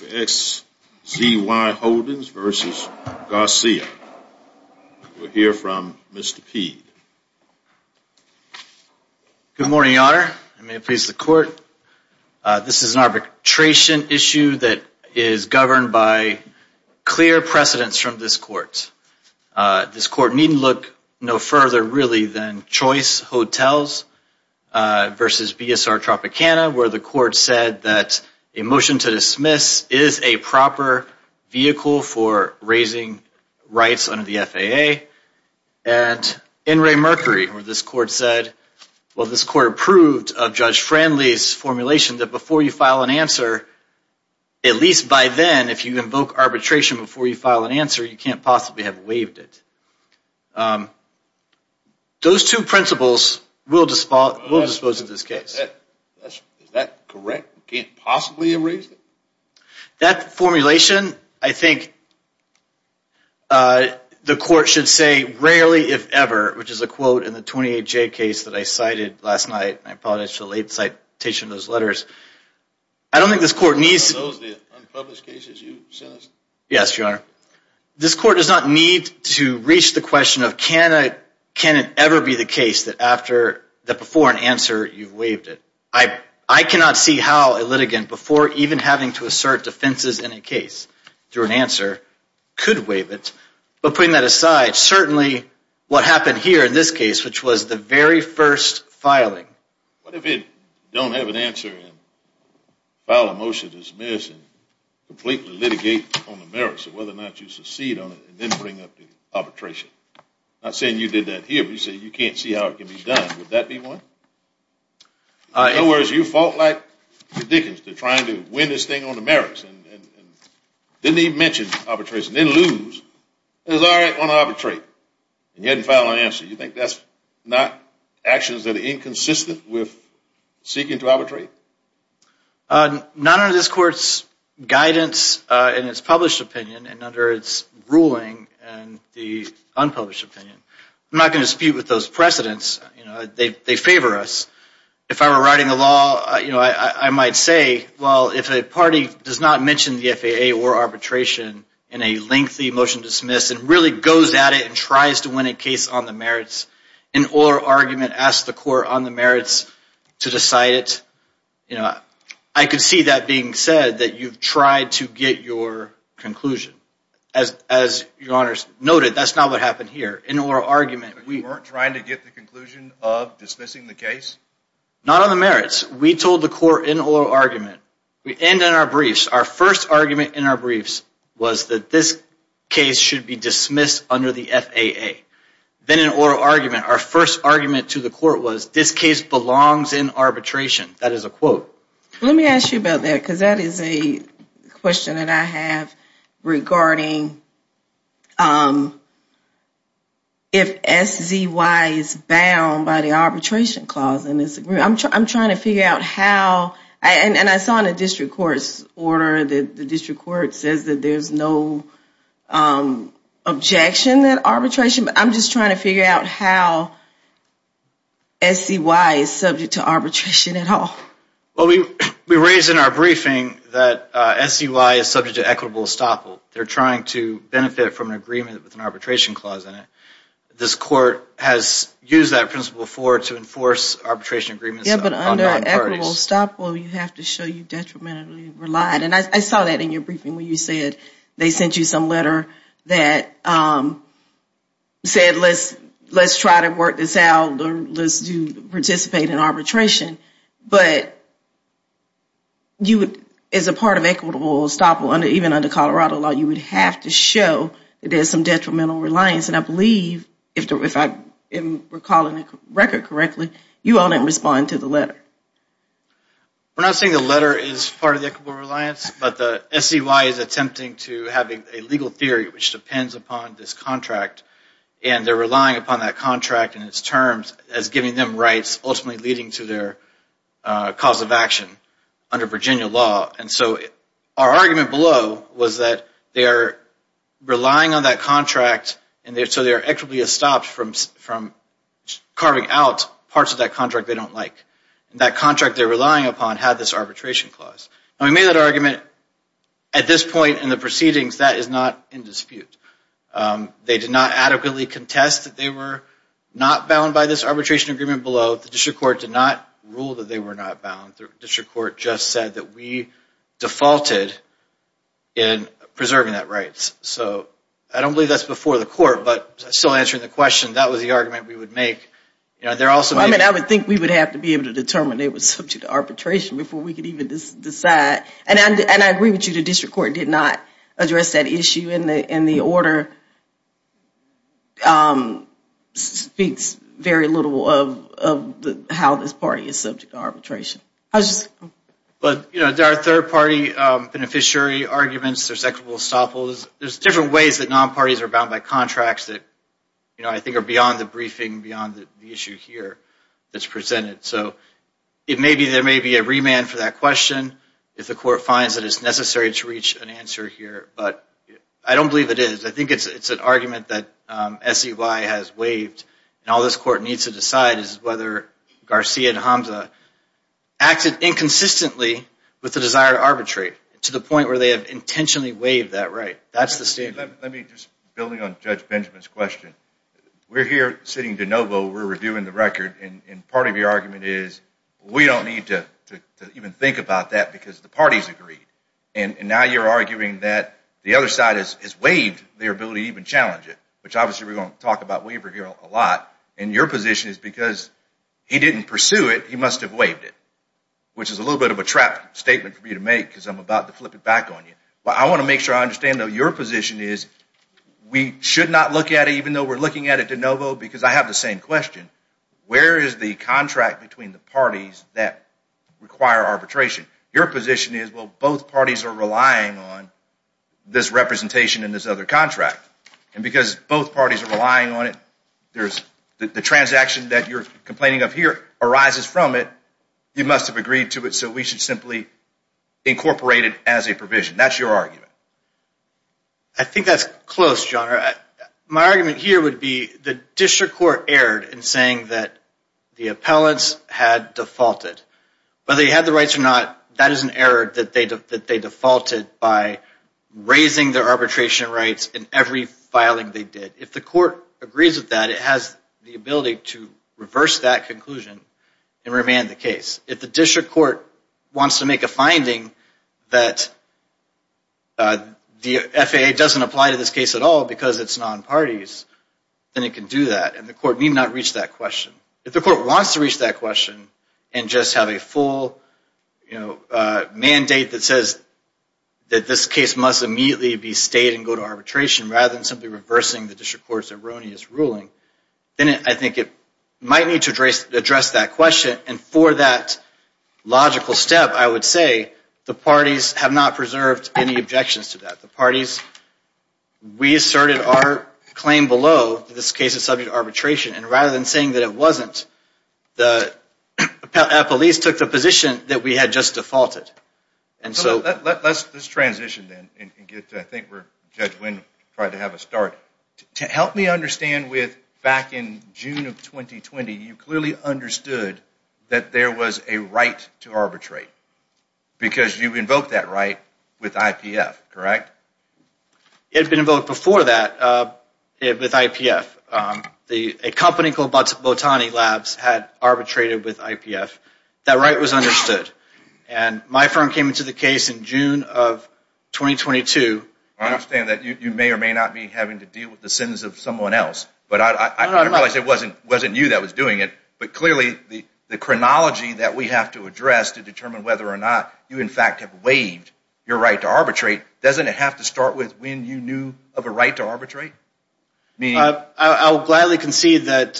XZY Holdings v. Garcia. We'll hear from Mr. Peed. Good morning, Your Honor. May it please the Court. This is an arbitration issue that is governed by clear precedence from this Court. This Court needn't look no further really than Choice Hotels v. BSR Tropicana where the Court said that a motion to dismiss is a proper vehicle for raising rights under the FAA. And N. Ray Mercury where this Court said, well this Court approved of Judge Franley's formulation that before you file an answer, at least by then, if you invoke arbitration before you file an answer, you can't possibly have waived it. Those two principles will dispose of this case. Is that correct? You can't possibly have raised it? That formulation, I think, the Court should say, rarely if ever, which is a quote in the 28J case that I cited last night. I apologize for the late citation of those letters. I don't think this Court needs... Are those the unpublished cases you sent us? Yes, Your Honor. This Court does not need to reach the question of can it ever be the case that before an answer, you've waived it. I cannot see how a litigant, before even having to assert defenses in a case, through an answer, could waive it. But putting that aside, certainly what happened here in this case, which was the very first filing... What if it don't have an answer and file a motion to dismiss and completely litigate on the merits of whether or not you succeed on it and then bring up the arbitration? Not saying you did that here, but you said you can't see how it can be done. Would that be one? In other words, you fought like the Dickens to try to win this thing on the merits and didn't even mention arbitration, didn't lose. It was all right on arbitrate and you didn't file an answer. You think that's not actions that are inconsistent with seeking to arbitrate? Not under this Court's guidance in its published opinion and under its ruling in the unpublished opinion. I'm not going to dispute with those precedents. They favor us. If I were writing the law, I might say, well, if a party does not mention the FAA or arbitration in a lengthy motion to dismiss and really goes at it and tries to win a case on the merits in oral argument, asks the Court on the merits to decide it, I could see that being said that you've tried to get your conclusion. As your Honor noted, that's not what happened here. In oral argument, we... You weren't trying to get the conclusion of dismissing the case? Not on the merits. We told the Court in oral argument. We end in our briefs. Our first argument in our briefs was that this case should be dismissed under the FAA. Then in oral argument, our first argument to the Court was, this case belongs in arbitration. That is a quote. Let me ask you about that, because that is a question that I have regarding if SZY is bound by the arbitration clause in this agreement. I'm trying to figure out how, and I saw in the district court's order that the district court says that there's no objection to arbitration, but I'm just trying to figure out how SZY is subject to arbitration at all. Well, we raised in our briefing that SZY is subject to equitable estoppel. They're trying to benefit from an agreement with an arbitration clause in it. This Court has used that principle to enforce arbitration agreements on non-parties. Yeah, but under equitable estoppel, you have to show you detrimentally relied, and I saw that in your briefing when you said they sent you some letter that said, let's try to work this out, let's participate in arbitration, but as a part of equitable estoppel, even under Colorado law, you would have to show that there's some detrimental reliance. I believe, if I'm recalling the record correctly, you all didn't respond to the letter. We're not saying the letter is part of the equitable reliance, but SZY is attempting to have a legal theory which depends upon this contract, and they're relying upon that contract and its terms as giving them rights, ultimately leading to their cause of action under Virginia law. And so our argument below was that they're relying on that contract, and so they're equitably estopped from carving out parts of that contract they don't like. And that contract they're relying upon had this arbitration clause. And we made that argument at this point in the proceedings. That is not in dispute. They did not adequately contest that they were not bound by this arbitration agreement below. The district court did not rule that they were not bound. The district court just said that we defaulted in preserving that rights. So I don't believe that's before the court, but still answering the question, that was the argument we would make. I mean, I would think we would have to be able to determine it was subject to arbitration before we could even decide. And I agree with you, the district court did not address that issue, and the order speaks very little of how this party is subject to arbitration. But, you know, there are third-party beneficiary arguments, there's equitable estoppels. There's different ways that non-parties are bound by contracts that, you know, I think are beyond the briefing, beyond the issue here that's presented. So it may be, there may be a remand for that question if the court finds that it's necessary to reach an answer here. But I don't believe it is. I think it's an argument that SEY has waived. And all this court needs to decide is whether Garcia and Hamza acted inconsistently with the desire to arbitrate to the point where they have intentionally waived that right. That's the statement. Let me just, building on Judge Benjamin's question. We're here sitting de novo, we're reviewing the record, and part of your argument is we don't need to even think about that because the parties agreed. And now you're arguing that the other side has waived their ability to even challenge it, which obviously we're going to talk about waiver here a lot. And your position is because he didn't pursue it, he must have waived it, which is a little bit of a trap statement for me to make because I'm about to flip it back on you. But I want to make sure I understand, though, your position is we should not look at it, even though we're looking at it de novo, because I have the same question. Where is the contract between the parties that require arbitration? Your position is, well, both parties are relying on this representation in this other contract. And because both parties are relying on it, the transaction that you're complaining of here arises from it. You must have agreed to it, so we should simply incorporate it as a provision. That's your argument. I think that's close, John. My argument here would be the district court erred in saying that the appellants had defaulted. Whether they had the rights or not, that is an error that they defaulted by raising their arbitration rights in every filing they did. If the court agrees with that, it has the ability to reverse that conclusion and remand the case. If the district court wants to make a finding that the FAA doesn't apply to this case at all because it's non-parties, then it can do that. And the court need not reach that question. If the court wants to reach that question and just have a full mandate that says that this case must immediately be stayed and go to arbitration rather than simply reversing the district court's erroneous ruling, then I think it might need to address that question. And for that logical step, I would say the parties have not preserved any objections to that. We asserted our claim below that this case is subject to arbitration, and rather than saying that it wasn't, the appellees took the position that we had just defaulted. Let's transition then and get to where Judge Wynn tried to have us start. To help me understand, back in June of 2020, you clearly understood that there was a right to arbitrate because you invoked that right with IPF, correct? It had been invoked before that with IPF. A company called Botani Labs had arbitrated with IPF. That right was understood, and my firm came into the case in June of 2022. I understand that you may or may not be having to deal with the sins of someone else, but I realize it wasn't you that was doing it. But clearly, the chronology that we have to address to determine whether or not you in fact have waived your right to arbitrate, doesn't it have to start with when you knew of a right to arbitrate? I'll gladly concede that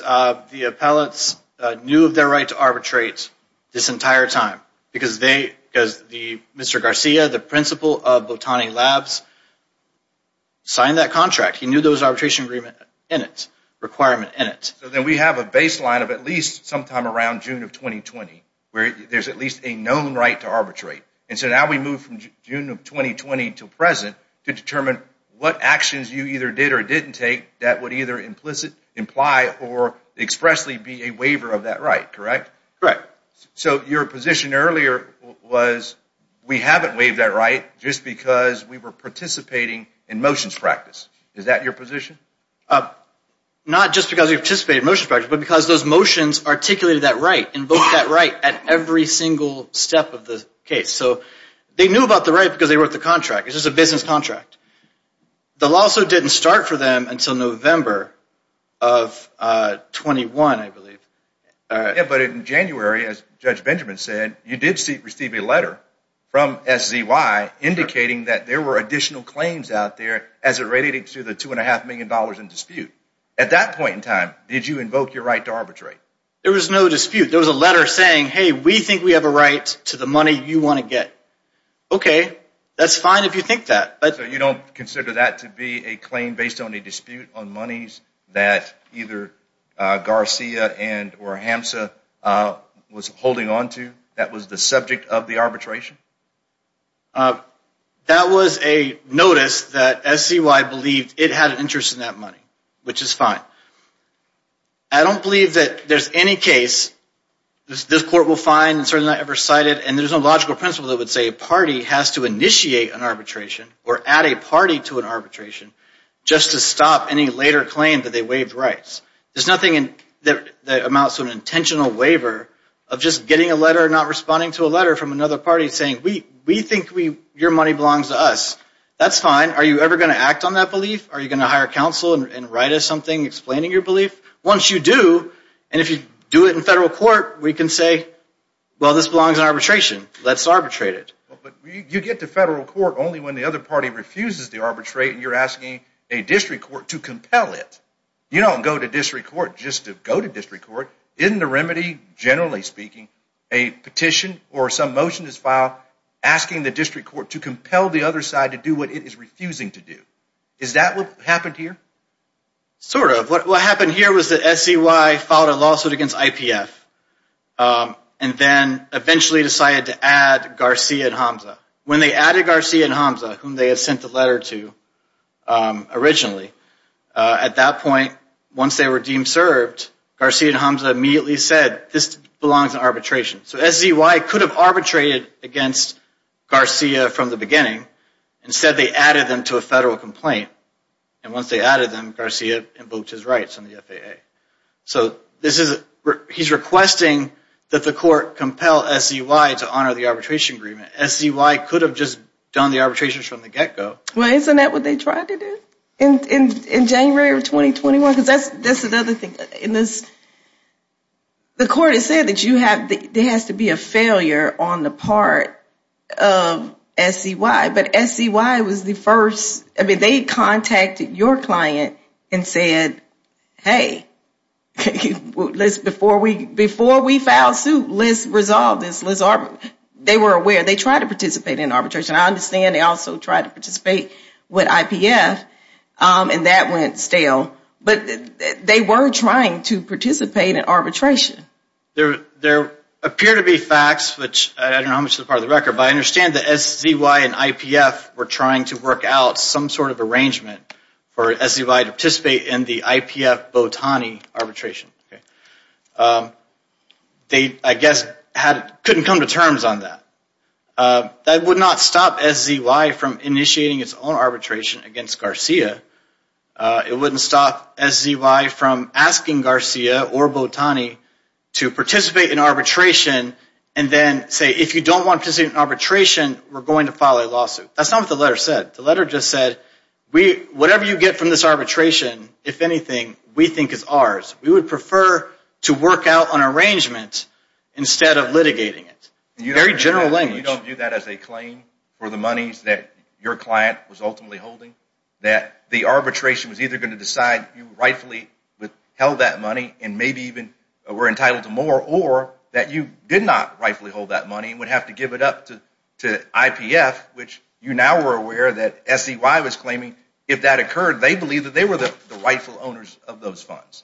the appellates knew of their right to arbitrate this entire time, because Mr. Garcia, the principal of Botani Labs, signed that contract. He knew there was an arbitration agreement in it, a requirement in it. So then we have a baseline of at least sometime around June of 2020, where there's at least a known right to arbitrate. And so now we move from June of 2020 to present to determine what actions you either did or didn't take that would either imply or expressly be a waiver of that right, correct? Correct. So your position earlier was we haven't waived that right just because we were participating in motions practice. Is that your position? Not just because we participated in motions practice, but because those motions articulated that right, invoked that right at every single step of the case. So they knew about the right because they wrote the contract. It's just a business contract. The lawsuit didn't start for them until November of 21, I believe. Yeah, but in January, as Judge Benjamin said, you did receive a letter from SZY indicating that there were additional claims out there as it related to the $2.5 million in dispute. At that point in time, did you invoke your right to arbitrate? There was no dispute. There was a letter saying, hey, we think we have a right to the money you want to get. Okay, that's fine if you think that. So you don't consider that to be a claim based on a dispute on monies that either Garcia and or HAMSA was holding onto that was the subject of the arbitration? That was a notice that SZY believed it had an interest in that money, which is fine. I don't believe that there's any case this court will find and certainly not ever cite it, and there's no logical principle that would say a party has to initiate an arbitration or add a party to an arbitration just to stop any later claim that they waived rights. There's nothing that amounts to an intentional waiver of just getting a letter not responding to a letter from another party saying, we think your money belongs to us. That's fine. Are you ever going to act on that belief? Are you going to hire counsel and write us something explaining your belief? Once you do, and if you do it in federal court, we can say, well, this belongs in arbitration. Let's arbitrate it. But you get to federal court only when the other party refuses to arbitrate and you're asking a district court to compel it. You don't go to district court just to go to district court. Isn't the remedy, generally speaking, a petition or some motion that's filed asking the district court to compel the other side to do what it is refusing to do? Is that what happened here? Sort of. What happened here was that SCY filed a lawsuit against IPF and then eventually decided to add Garcia and Hamza. When they added Garcia and Hamza, whom they had sent the letter to originally, at that point, once they were deemed served, Garcia and Hamza immediately said, this belongs in arbitration. So SCY could have arbitrated against Garcia from the beginning. Instead, they added them to a federal complaint. And once they added them, Garcia invoked his rights on the FAA. So he's requesting that the court compel SCY to honor the arbitration agreement. SCY could have just done the arbitrations from the get-go. Well, isn't that what they tried to do in January of 2021? Because that's another thing. The court has said that there has to be a failure on the part of SCY. But SCY was the first. I mean, they contacted your client and said, hey, before we file a suit, let's resolve this. They were aware. They tried to participate in arbitration. I understand they also tried to participate with IPF, and that went stale. But they were trying to participate in arbitration. There appear to be facts, which I don't know how much is a part of the record, but I understand that SCY and IPF were trying to work out some sort of arrangement for SCY to participate in the IPF-Botani arbitration. They, I guess, couldn't come to terms on that. That would not stop SCY from initiating its own arbitration against Garcia. It wouldn't stop SCY from asking Garcia or Botani to participate in arbitration and then say, if you don't want to participate in arbitration, we're going to file a lawsuit. That's not what the letter said. The letter just said, whatever you get from this arbitration, if anything, we think is ours. We would prefer to work out an arrangement instead of litigating it. Very general language. You don't view that as a claim for the monies that your client was ultimately holding, that the arbitration was either going to decide you rightfully held that money and maybe even were entitled to more, or that you did not rightfully hold that money and would have to give it up to IPF, which you now were aware that SCY was claiming, if that occurred, they believed that they were the rightful owners of those funds.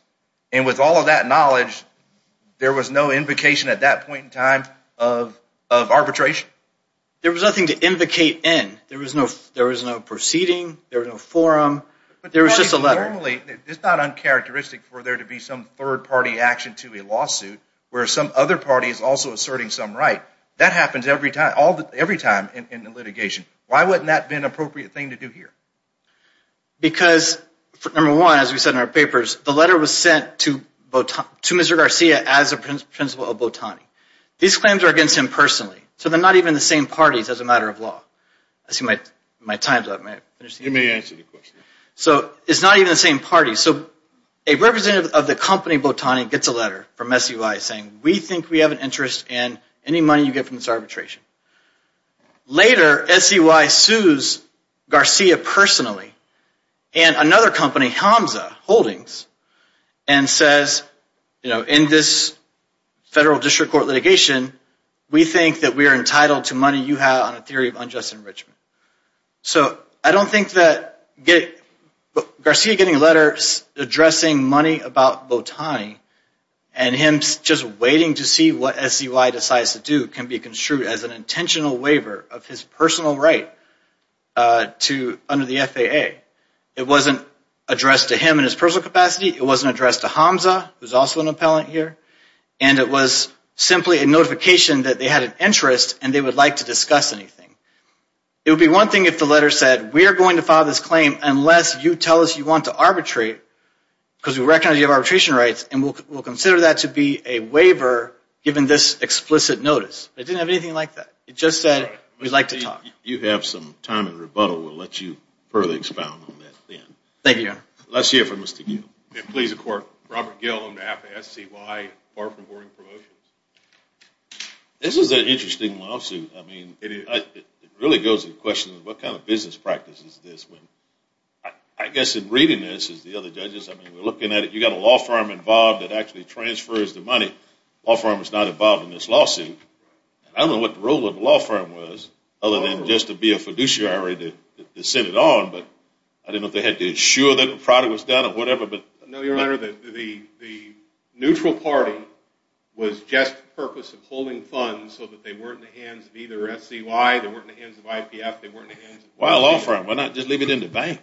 And with all of that knowledge, there was no invocation at that point in time of arbitration? There was nothing to invocate in. There was no proceeding. There was no forum. There was just a letter. Normally, it's not uncharacteristic for there to be some third-party action to a lawsuit where some other party is also asserting some right. That happens every time in litigation. Why wouldn't that have been an appropriate thing to do here? Because, number one, as we said in our papers, the letter was sent to Mr. Garcia as a principal of Botani. These claims are against him personally, so they're not even the same parties as a matter of law. I see my time's up. You may answer the question. So it's not even the same party. So a representative of the company Botani gets a letter from SCY saying, we think we have an interest in any money you get from this arbitration. Later, SCY sues Garcia personally and another company, Hamza Holdings, and says, you know, in this federal district court litigation, we think that we are entitled to money you have on a theory of unjust enrichment. So I don't think that Garcia getting a letter addressing money about Botani and him just waiting to see what SCY decides to do can be construed as an intentional waiver of his personal right under the FAA. It wasn't addressed to him in his personal capacity. It wasn't addressed to Hamza, who's also an appellant here. And it was simply a notification that they had an interest and they would like to discuss anything. It would be one thing if the letter said, we are going to file this claim unless you tell us you want to arbitrate, because we recognize you have arbitration rights, and we'll consider that to be a waiver given this explicit notice. It didn't have anything like that. It just said, we'd like to talk. You have some time in rebuttal. We'll let you further expound on that then. Thank you, Your Honor. Let's hear from Mr. Gill. Please, of course. Robert Gill on behalf of SCY, Barford Board of Promotions. This is an interesting lawsuit. I mean, it really goes to the question of what kind of business practice is this? I guess in reading this, as the other judges, I mean, we're looking at it. You've got a law firm involved that actually transfers the money. The law firm is not involved in this lawsuit. I don't know what the role of the law firm was, other than just to be a fiduciary to send it on. But I don't know if they had to insure that the product was done or whatever. No, Your Honor, the neutral party was just the purpose of holding funds so that they weren't in the hands of either SCY, they weren't in the hands of IPF, they weren't in the hands of IPF. Why a law firm? Why not just leave it in the bank?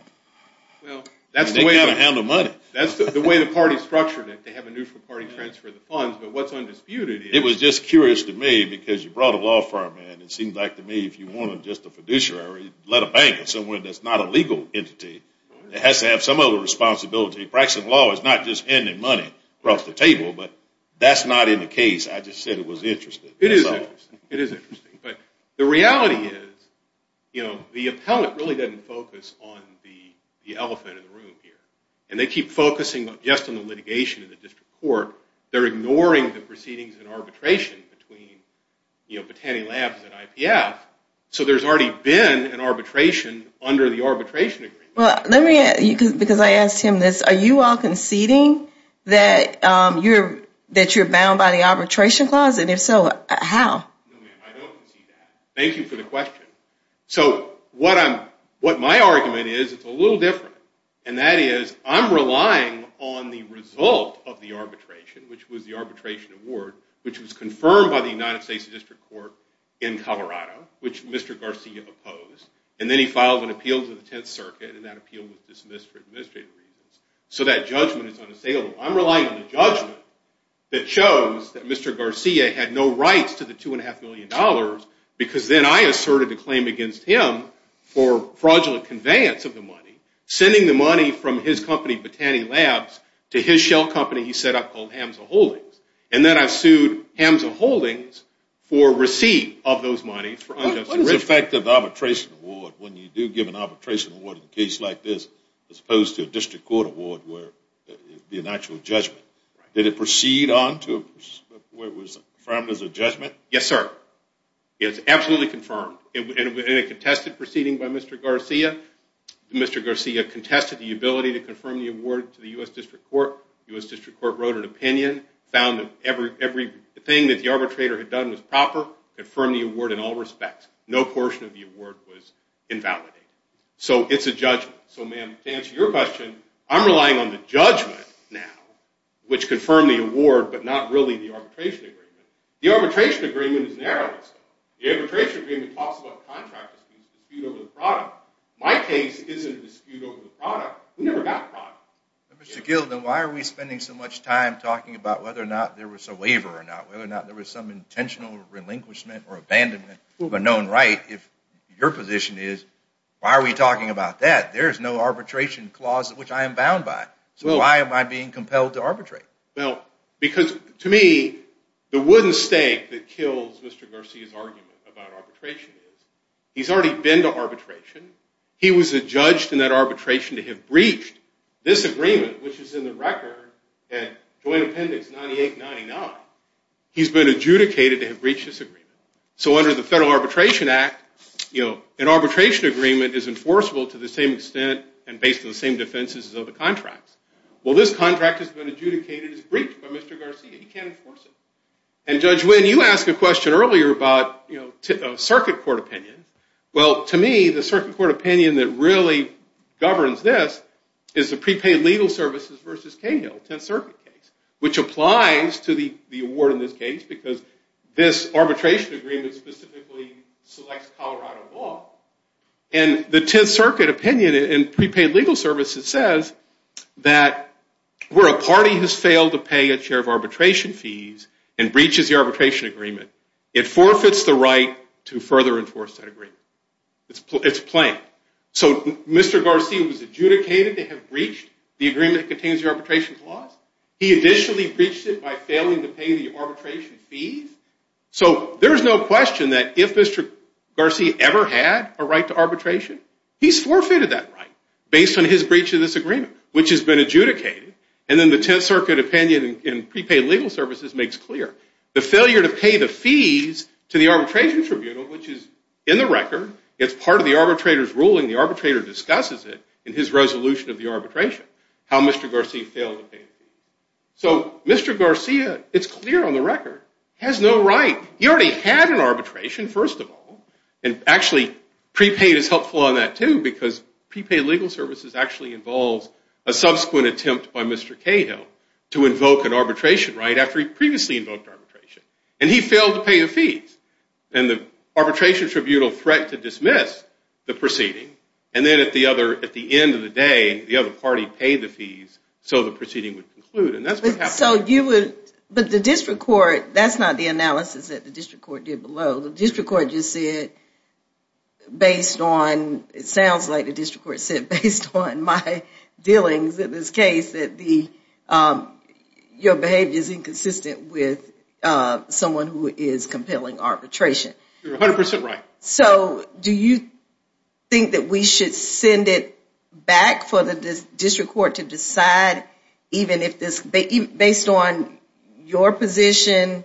That's the way to handle money. That's the way the party structured it, to have a neutral party transfer the funds. But what's undisputed is... It was just curious to me because you brought a law firm in. It seemed like to me if you wanted just a fiduciary, let a bank or someone that's not a legal entity. It has to have some other responsibility. Practicing law is not just handing money across the table, but that's not in the case. I just said it was interesting. It is interesting. It is interesting. But the reality is, you know, the appellant really doesn't focus on the elephant in the room here. And they keep focusing just on the litigation in the district court. They're ignoring the proceedings and arbitration between, you know, Botani Labs and IPF. So there's already been an arbitration under the arbitration agreement. Well, let me... Because I asked him this. Are you all conceding that you're bound by the arbitration clause? And if so, how? No, ma'am, I don't concede that. Thank you for the question. So what my argument is, it's a little different. And that is I'm relying on the result of the arbitration, which was the arbitration award, which was confirmed by the United States District Court in Colorado, which Mr. Garcia opposed. And then he filed an appeal to the Tenth Circuit, and that appeal was dismissed for administrative reasons. So that judgment is unassailable. I'm relying on a judgment that shows that Mr. Garcia had no rights to the $2.5 million because then I asserted a claim against him for fraudulent conveyance of the money, sending the money from his company, Botani Labs, to his shell company he set up called Hamza Holdings. And then I sued Hamza Holdings for receipt of those monies for unjust enrichment. What is the effect of the arbitration award when you do give an arbitration award in a case like this as opposed to a district court award where it would be an actual judgment? Did it proceed on to where it was confirmed as a judgment? Yes, sir. It was absolutely confirmed. In a contested proceeding by Mr. Garcia, Mr. Garcia contested the ability to confirm the award to the U.S. District Court. The U.S. District Court wrote an opinion, found that everything that the arbitrator had done was proper, confirmed the award in all respects. No portion of the award was invalidated. So it's a judgment. So ma'am, to answer your question, I'm relying on the judgment now, which confirmed the award but not really the arbitration agreement. The arbitration agreement is narrow in scope. The arbitration agreement talks about contract disputes, dispute over the product. My case isn't a dispute over the product. We never got product. Mr. Gilden, why are we spending so much time talking about whether or not there was a waiver or not, whether or not there was some intentional relinquishment or abandonment of a known right, if your position is, why are we talking about that? There is no arbitration clause which I am bound by. So why am I being compelled to arbitrate? Well, because to me the wooden stake that kills Mr. Garcia's argument about arbitration is he's already been to arbitration. He was adjudged in that arbitration to have breached this agreement, which is in the record at Joint Appendix 98-99. He's been adjudicated to have breached this agreement. So under the Federal Arbitration Act, an arbitration agreement is enforceable to the same extent and based on the same defenses as other contracts. Well, this contract has been adjudicated as breached by Mr. Garcia. He can't enforce it. And Judge Wynn, you asked a question earlier about circuit court opinion. Well, to me, the circuit court opinion that really governs this is the prepaid legal services versus Cahill Tenth Circuit case, which applies to the award in this case because this arbitration agreement specifically selects Colorado law. And the Tenth Circuit opinion in prepaid legal services says that where a party has failed to pay a share of arbitration fees and breaches the arbitration agreement, it forfeits the right to further enforce that agreement. It's plain. So Mr. Garcia was adjudicated to have breached the agreement that contains the arbitration clause. He additionally breached it by failing to pay the arbitration fees. So there is no question that if Mr. Garcia ever had a right to arbitration, he's forfeited that right based on his breach of this agreement, which has been adjudicated. And then the Tenth Circuit opinion in prepaid legal services makes clear. The failure to pay the fees to the arbitration tribunal, which is in the record, it's part of the arbitrator's ruling, the arbitrator discusses it in his resolution of the arbitration, how Mr. Garcia failed to pay the fees. So Mr. Garcia, it's clear on the record, has no right. He already had an arbitration, first of all. And actually, prepaid is helpful on that, too, because prepaid legal services actually involves a subsequent attempt by Mr. Cahill to invoke an arbitration right after he previously invoked arbitration. And he failed to pay the fees. And the arbitration tribunal threat to dismiss the proceeding. And then at the end of the day, the other party paid the fees so the proceeding would conclude. And that's what happened. But the district court, that's not the analysis that the district court did below. The district court just said, based on, it sounds like the district court said, based on my dealings in this case, that your behavior is inconsistent with someone who is compelling arbitration. You're 100% right. So do you think that we should send it back for the district court to decide, even if this, based on your position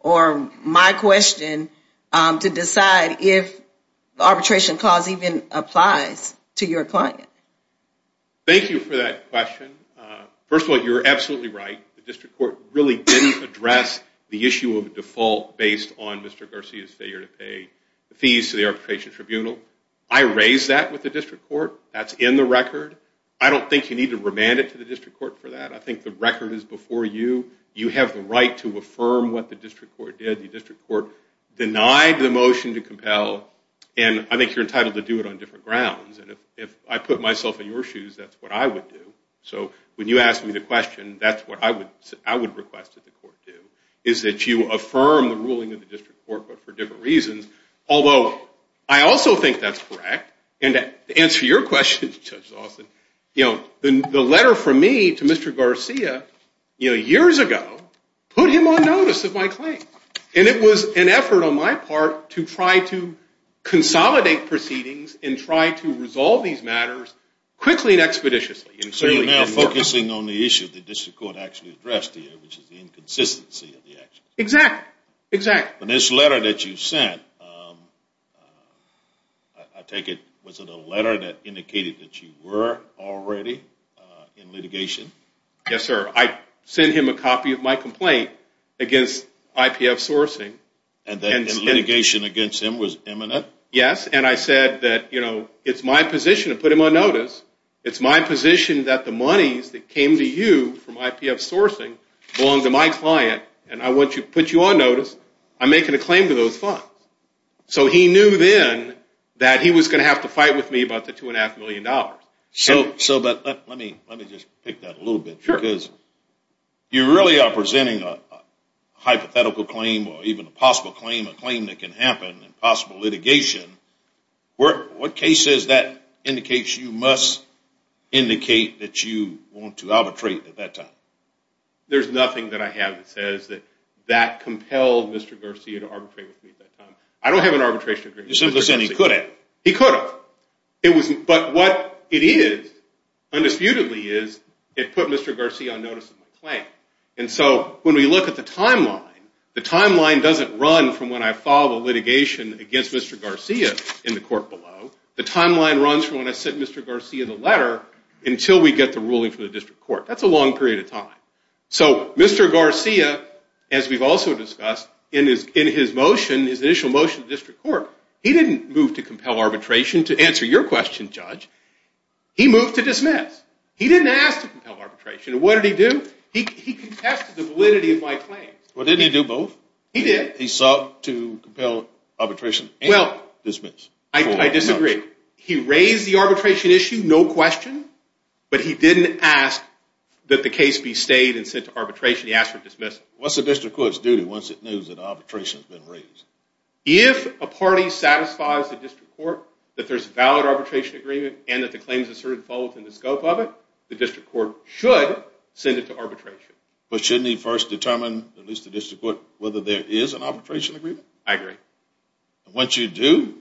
or my question, to decide if the arbitration clause even applies to your client? Thank you for that question. First of all, you're absolutely right. The district court really didn't address the issue of default based on Mr. Garcia's failure to pay the fees to the arbitration tribunal. I raised that with the district court. That's in the record. I don't think you need to remand it to the district court for that. I think the record is before you. You have the right to affirm what the district court did. The district court denied the motion to compel. And I think you're entitled to do it on different grounds. And if I put myself in your shoes, that's what I would do. So when you ask me the question, that's what I would request that the court do, is that you affirm the ruling of the district court, but for different reasons. Although, I also think that's correct. And to answer your question, Judge Lawson, the letter from me to Mr. Garcia years ago put him on notice of my claim. And it was an effort on my part to try to consolidate proceedings and try to resolve these matters quickly and expeditiously. So you're now focusing on the issue the district court actually addressed to you, which is the inconsistency of the actions. Exactly. And this letter that you sent, I take it, was it a letter that indicated that you were already in litigation? Yes, sir. I sent him a copy of my complaint against IPF sourcing. And the litigation against him was imminent? Yes. And I said that it's my position to put him on notice. It's my position that the monies that came to you from IPF sourcing belonged to my client, and I want to put you on notice. I'm making a claim to those funds. So he knew then that he was going to have to fight with me about the $2.5 million. So let me just pick that a little bit. Sure. Because you really are presenting a hypothetical claim or even a possible claim, a claim that can happen in possible litigation. What cases that indicates you must indicate that you want to arbitrate at that time? There's nothing that I have that says that that compelled Mr. Garcia to arbitrate with me at that time. I don't have an arbitration agreement with Mr. Garcia. You're simply saying he could have. He could have. But what it is, undisputedly, is it put Mr. Garcia on notice of my claim. And so when we look at the timeline, the timeline doesn't run from when I file a litigation against Mr. Garcia in the court below. The timeline runs from when I send Mr. Garcia the letter until we get the ruling from the district court. That's a long period of time. So Mr. Garcia, as we've also discussed in his motion, his initial motion to district court, he didn't move to compel arbitration to answer your question, Judge. He moved to dismiss. He didn't ask to compel arbitration. And what did he do? He contested the validity of my claim. Well, didn't he do both? He did. He sought to compel arbitration and dismiss. I disagree. He raised the arbitration issue, no question, but he didn't ask that the case be stayed and sent to arbitration. He asked for dismissal. What's the district court's duty once it knows that arbitration has been raised? If a party satisfies the district court that there's a valid arbitration agreement and that the claim is asserted and followed within the scope of it, the district court should send it to arbitration. But shouldn't he first determine, at least the district court, whether there is an arbitration agreement? I agree. And once you do,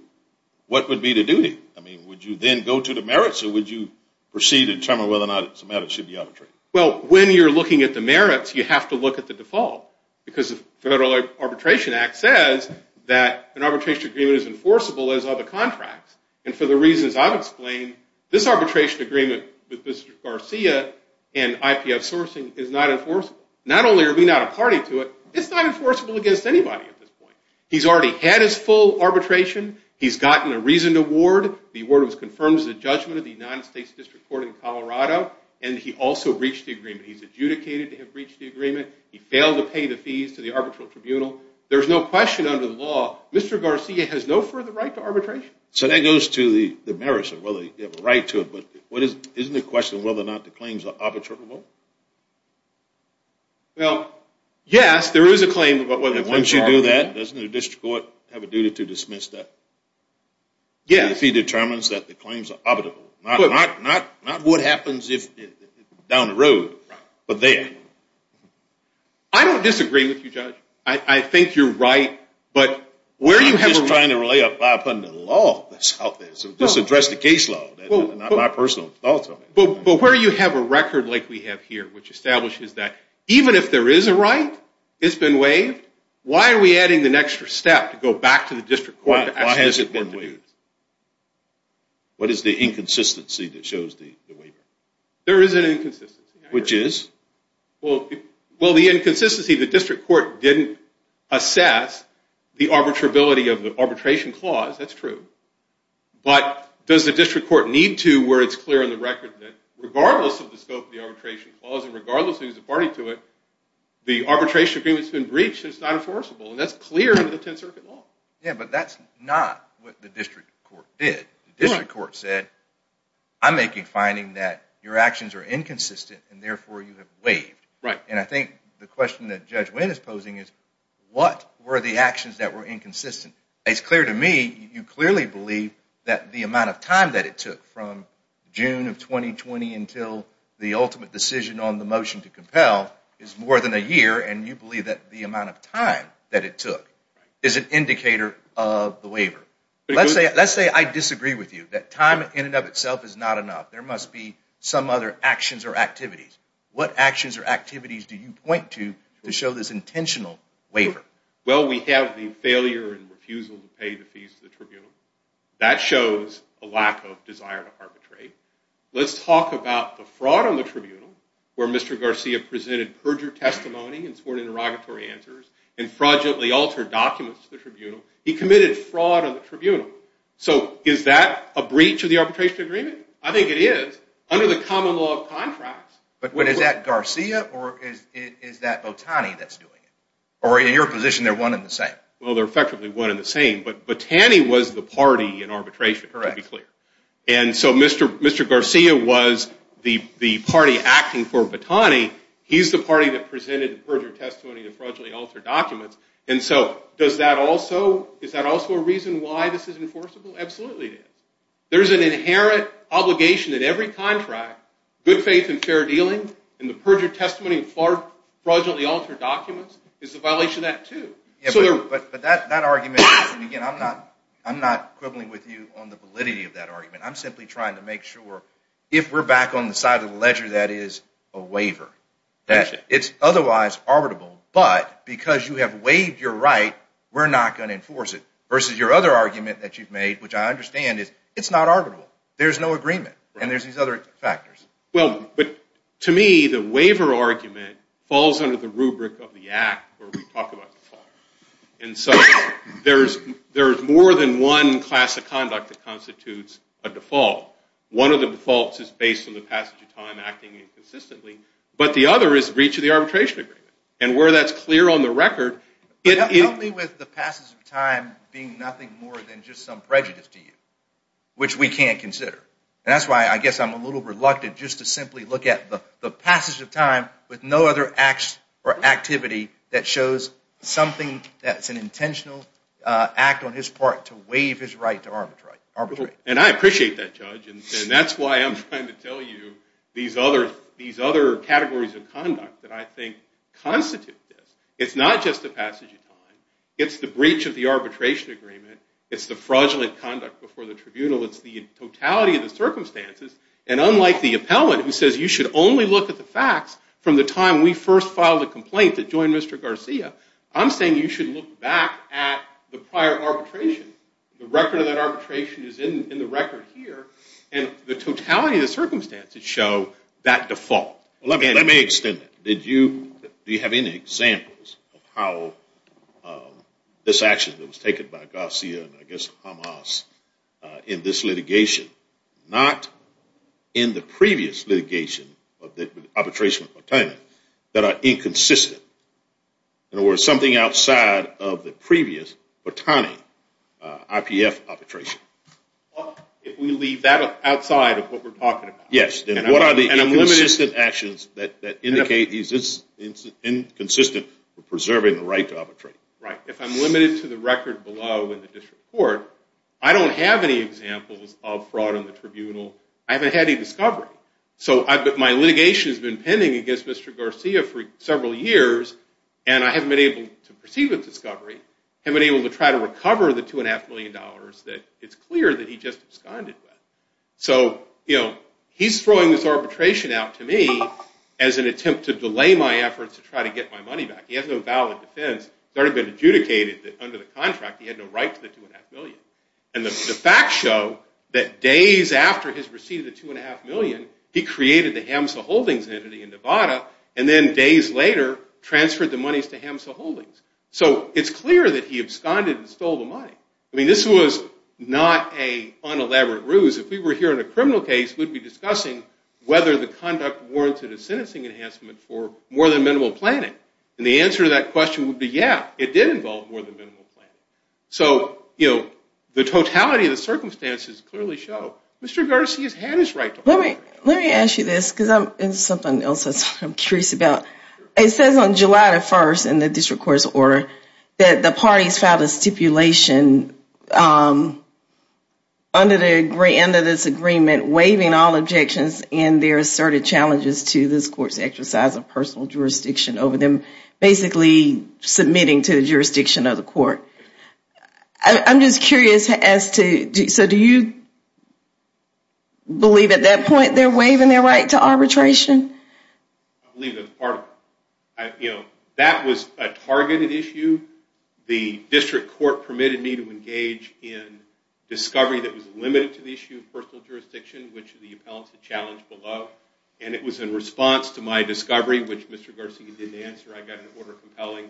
what would be the duty? I mean, would you then go to the merits or would you proceed to determine whether or not it's a matter that should be arbitrated? Well, when you're looking at the merits, you have to look at the default because the Federal Arbitration Act says that an arbitration agreement is enforceable as other contracts. And for the reasons I've explained, this arbitration agreement with Mr. Garcia and IPF sourcing is not enforceable. Not only are we not a party to it, it's not enforceable against anybody at this point. He's already had his full arbitration. He's gotten a reasoned award. The award was confirmed as a judgment of the United States District Court in Colorado, and he also breached the agreement. He's adjudicated to have breached the agreement. He failed to pay the fees to the arbitral tribunal. There's no question under the law Mr. Garcia has no further right to arbitration. So that goes to the merits of whether you have a right to it, but isn't it a question of whether or not the claims are arbitrable? Well, yes, there is a claim. Once you do that, doesn't the district court have a duty to dismiss that? Yes. If he determines that the claims are arbitrable. Not what happens down the road, but there. I don't disagree with you, Judge. I think you're right. I'm just trying to rely upon the law that's out there, so just address the case law, not my personal thoughts on it. But where you have a record like we have here, which establishes that even if there is a right, it's been waived, why are we adding an extra step to go back to the district court to ask has it been waived? What is the inconsistency that shows the waiver? There is an inconsistency. Which is? Well, the inconsistency, the district court didn't assess the arbitrability of the arbitration clause. That's true. But does the district court need to where it's clear on the record that regardless of the scope of the arbitration clause and regardless of who's a party to it, the arbitration agreement's been breached and it's not enforceable? And that's clear under the Tenth Circuit law. Yeah, but that's not what the district court did. The district court said, I'm making a finding that your actions are inconsistent and therefore you have waived. Right. And I think the question that Judge Wynn is posing is what were the actions that were inconsistent? It's clear to me, you clearly believe that the amount of time that it took from June of 2020 until the ultimate decision on the motion to compel is more than a year, and you believe that the amount of time that it took is an indicator of the waiver. Let's say I disagree with you, that time in and of itself is not enough. There must be some other actions or activities. What actions or activities do you point to to show this intentional waiver? Well, we have the failure and refusal to pay the fees to the tribunal. That shows a lack of desire to arbitrate. Let's talk about the fraud on the tribunal where Mr. Garcia presented perjured testimony and sworn interrogatory answers and fraudulently altered documents to the tribunal. He committed fraud on the tribunal. So is that a breach of the arbitration agreement? I think it is under the common law of contracts. But is that Garcia or is that Botani that's doing it? Or in your position, they're one and the same? Well, they're effectively one and the same, but Botani was the party in arbitration, to be clear. And so Mr. Garcia was the party acting for Botani. He's the party that presented perjured testimony and fraudulently altered documents. And so is that also a reason why this is enforceable? Absolutely it is. There's an inherent obligation in every contract, good faith and fair dealing, and the perjured testimony and fraudulently altered documents is a violation of that, too. But that argument, again, I'm not quibbling with you on the validity of that argument. I'm simply trying to make sure if we're back on the side of the ledger that is a waiver. It's otherwise arbitrable, but because you have waived your right, we're not going to enforce it versus your other argument that you've made, which I understand is it's not arbitrable. There's no agreement, and there's these other factors. Well, but to me, the waiver argument falls under the rubric of the act where we talk about default. And so there's more than one class of conduct that constitutes a default. One of the defaults is based on the passage of time acting inconsistently, but the other is breach of the arbitration agreement. And where that's clear on the record... Help me with the passage of time being nothing more than just some prejudice to you, which we can't consider. And that's why I guess I'm a little reluctant just to simply look at the passage of time with no other act or activity that shows something that's an intentional act on his part to waive his right to arbitrate. And I appreciate that, Judge, and that's why I'm trying to tell you these other categories of conduct that I think constitute this. It's not just the passage of time. It's the breach of the arbitration agreement. It's the fraudulent conduct before the tribunal. It's the totality of the circumstances. And unlike the appellant who says you should only look at the facts from the time we first filed a complaint that joined Mr. Garcia, I'm saying you should look back at the prior arbitration. The record of that arbitration is in the record here, and the totality of the circumstances show that default. Let me extend that. Do you have any examples of how this action that was taken by Garcia and I guess Hamas in this litigation, not in the previous litigation of the arbitration of Botani, that are inconsistent? In other words, something outside of the previous Botani IPF arbitration? If we leave that outside of what we're talking about. Yes, and what are the inconsistent actions that indicate it's inconsistent with preserving the right to arbitrate? Right. If I'm limited to the record below in the district court, I don't have any examples of fraud in the tribunal. I haven't had any discovery. So my litigation has been pending against Mr. Garcia for several years, and I haven't been able to proceed with discovery. I haven't been able to try to recover the $2.5 million that it's clear that he just absconded with. So he's throwing this arbitration out to me as an attempt to delay my efforts to try to get my money back. He has no valid defense. It's already been adjudicated that under the contract he had no right to the $2.5 million. And the facts show that days after his receipt of the $2.5 million, he created the Hamsa Holdings entity in Nevada, and then days later transferred the monies to Hamsa Holdings. So it's clear that he absconded and stole the money. I mean, this was not an unelaborate ruse. If we were hearing a criminal case, we'd be discussing whether the conduct warranted a sentencing enhancement for more than minimal planning. And the answer to that question would be, yeah, it did involve more than minimal planning. So, you know, the totality of the circumstances clearly show Mr. Garcia's had his right to the money. Let me ask you this because it's something else I'm curious about. It says on July the 1st in the district court's order that the parties filed a stipulation under this agreement waiving all objections and their asserted challenges to this court's exercise of personal jurisdiction over them, basically submitting to the jurisdiction of the court. I'm just curious as to, so do you believe at that point they're waiving their right to arbitration? I believe that's part of it. You know, that was a targeted issue. The district court permitted me to engage in discovery that was limited to the issue of personal jurisdiction, which the appellants had challenged below. And it was in response to my discovery, which Mr. Garcia didn't answer, I got an order compelling.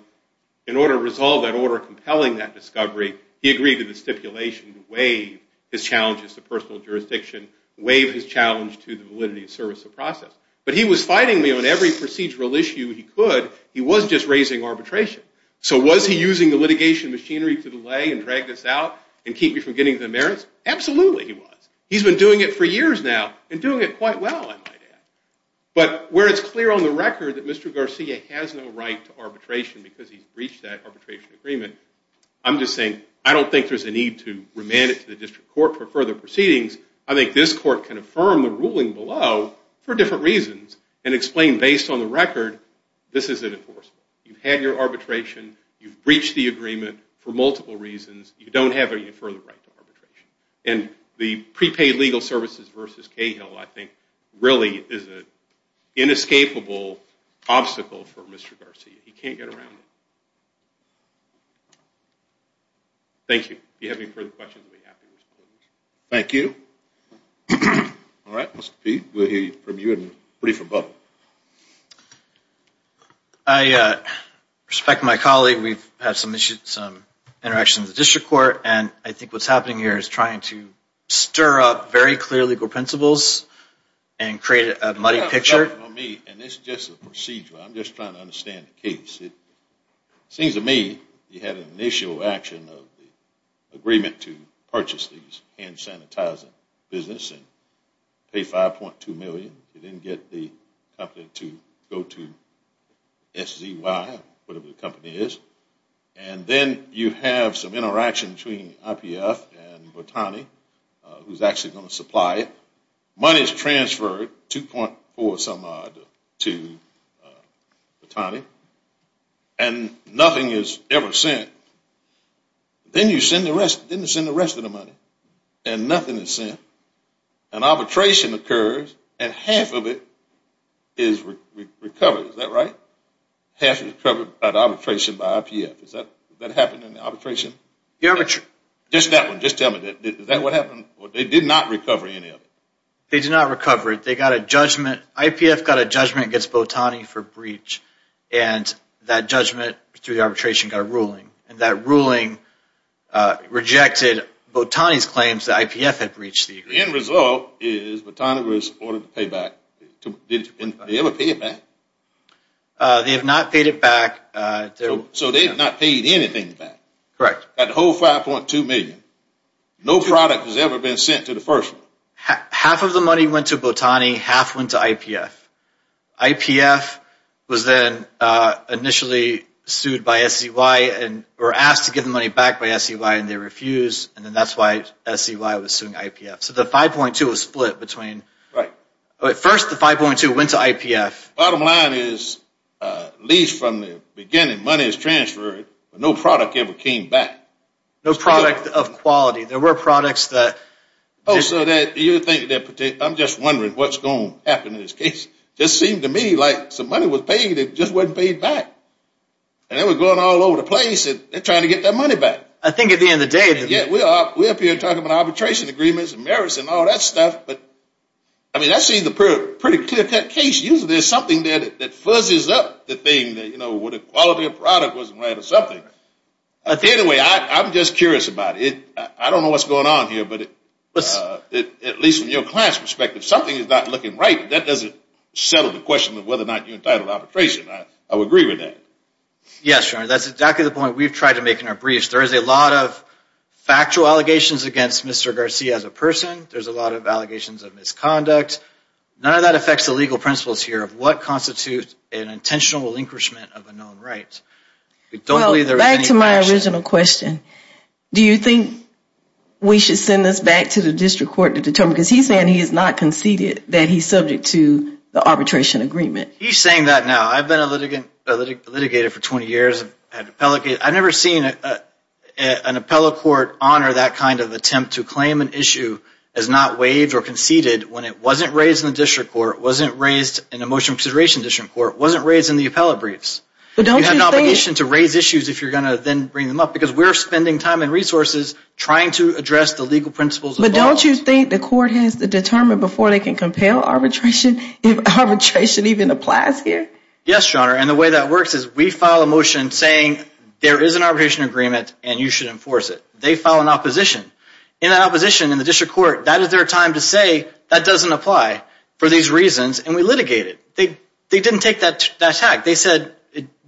In order to resolve that order compelling that discovery, he agreed to the stipulation to waive his challenges to personal jurisdiction, waive his challenge to the validity and service of process. But he was fighting me on every procedural issue he could. He was just raising arbitration. So was he using the litigation machinery to delay and drag this out and keep me from getting the merits? Absolutely he was. He's been doing it for years now and doing it quite well, I might add. But where it's clear on the record that Mr. Garcia has no right to arbitration because he's breached that arbitration agreement, I'm just saying I don't think there's a need to remand it to the district court for further proceedings. I think this court can affirm the ruling below for different reasons and explain based on the record this isn't enforceable. You've had your arbitration. You've breached the agreement for multiple reasons. You don't have any further right to arbitration. And the prepaid legal services versus Cahill, I think, really is an inescapable obstacle for Mr. Garcia. He can't get around it. Thank you. If you have any further questions, I'll be happy to respond. Thank you. All right. Mr. Peete, we'll hear from you in the brief above. I respect my colleague. We've had some interactions with the district court. And I think what's happening here is trying to stir up very clear legal principles and create a muddy picture. And this is just a procedure. I'm just trying to understand the case. It seems to me you had an initial action of the agreement to purchase these hand sanitizing businesses and pay $5.2 million. You didn't get the company to go to SZY, whatever the company is. And then you have some interaction between IPF and Botani, who's actually going to supply it. Money is transferred 2.4 some odd to Botani. And nothing is ever sent. Then you send the rest of the money. And nothing is sent. An arbitration occurs, and half of it is recovered. Is that right? Half is recovered by the arbitration by IPF. Has that happened in the arbitration? Just that one. Just tell me. Is that what happened? They did not recover any of it. They did not recover it. They got a judgment. IPF got a judgment against Botani for breach. And that judgment, through the arbitration, got a ruling. And that ruling rejected Botani's claims that IPF had breached the agreement. The end result is Botani was ordered to pay back. Did they ever pay it back? They have not paid it back. So they have not paid anything back. Correct. That whole $5.2 million. No product has ever been sent to the first one. Half of the money went to Botani. Half went to IPF. IPF was then initially sued by SCY and were asked to give the money back by SCY, and they refused. And then that's why SCY was suing IPF. So the $5.2 million was split between... Right. First, the $5.2 million went to IPF. Bottom line is, at least from the beginning, money is transferred, but no product ever came back. No product of quality. There were products that... I'm just wondering what's going to happen in this case. It just seemed to me like some money was paid and it just wasn't paid back. And they were going all over the place and they're trying to get their money back. I think at the end of the day... Yeah, we're up here talking about arbitration agreements and merits and all that stuff, but, I mean, I see the pretty clear-cut case. Usually there's something there that fuzzes up the thing where the quality of the product wasn't right or something. Anyway, I'm just curious about it. I don't know what's going on here, but at least from your class perspective, something is not looking right. That doesn't settle the question of whether or not you're entitled to arbitration. I would agree with that. Yes, Your Honor. That's exactly the point we've tried to make in our briefs. There is a lot of factual allegations against Mr. Garcia as a person. There's a lot of allegations of misconduct. None of that affects the legal principles here of what constitutes an intentional relinquishment of a known right. Well, back to my original question. Do you think we should send this back to the district court to determine? Because he's saying he has not conceded that he's subject to the arbitration agreement. He's saying that now. I've been a litigator for 20 years. I've never seen an appellate court honor that kind of attempt to claim an issue as not waived or conceded when it wasn't raised in the district court, wasn't raised in a motion consideration district court, wasn't raised in the appellate briefs. You have an obligation to raise issues if you're going to then bring them up because we're spending time and resources trying to address the legal principles involved. But don't you think the court has to determine before they can compel arbitration if arbitration even applies here? Yes, Your Honor, and the way that works is we file a motion saying there is an arbitration agreement and you should enforce it. They file an opposition. In that opposition in the district court, that is their time to say that doesn't apply for these reasons, and we litigate it. They didn't take that attack. They said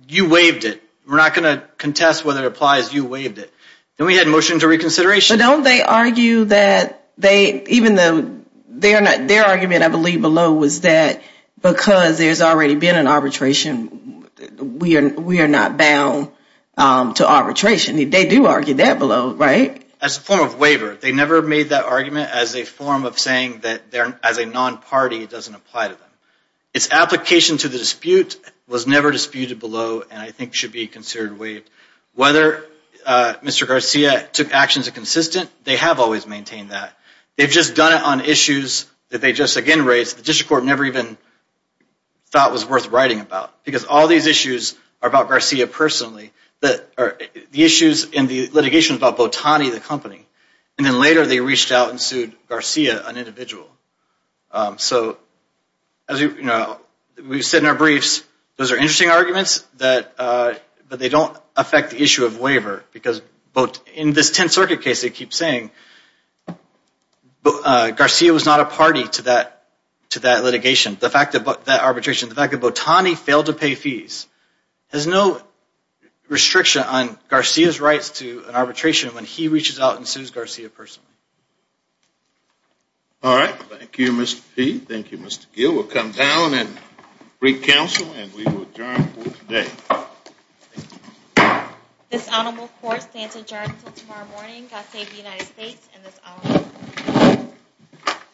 you waived it. We're not going to contest whether it applies. You waived it. Then we had a motion to reconsideration. But don't they argue that they, even though their argument I believe below was that because there's already been an arbitration, we are not bound to arbitration. They do argue that below, right? That's a form of waiver. They never made that argument as a form of saying that as a non-party, it doesn't apply to them. Its application to the dispute was never disputed below and I think should be considered waived. Whether Mr. Garcia took actions that are consistent, they have always maintained that. They've just done it on issues that they just again raised the district court never even thought was worth writing about because all these issues are about Garcia personally. The issues in the litigation is about Botani, the company. And then later they reached out and sued Garcia, an individual. So as we've said in our briefs, those are interesting arguments but they don't affect the issue of waiver because in this Tenth Circuit case, they keep saying Garcia was not a party to that litigation. The fact that that arbitration, the fact that Botani failed to pay fees has no restriction on Garcia's rights to an arbitration when he reaches out and sues Garcia personally. All right. Thank you, Mr. Peay. Thank you, Mr. Gill. We'll come down and brief counsel and we will adjourn for today. Thank you. This honorable court stands adjourned until tomorrow morning. God save the United States and this honorable court.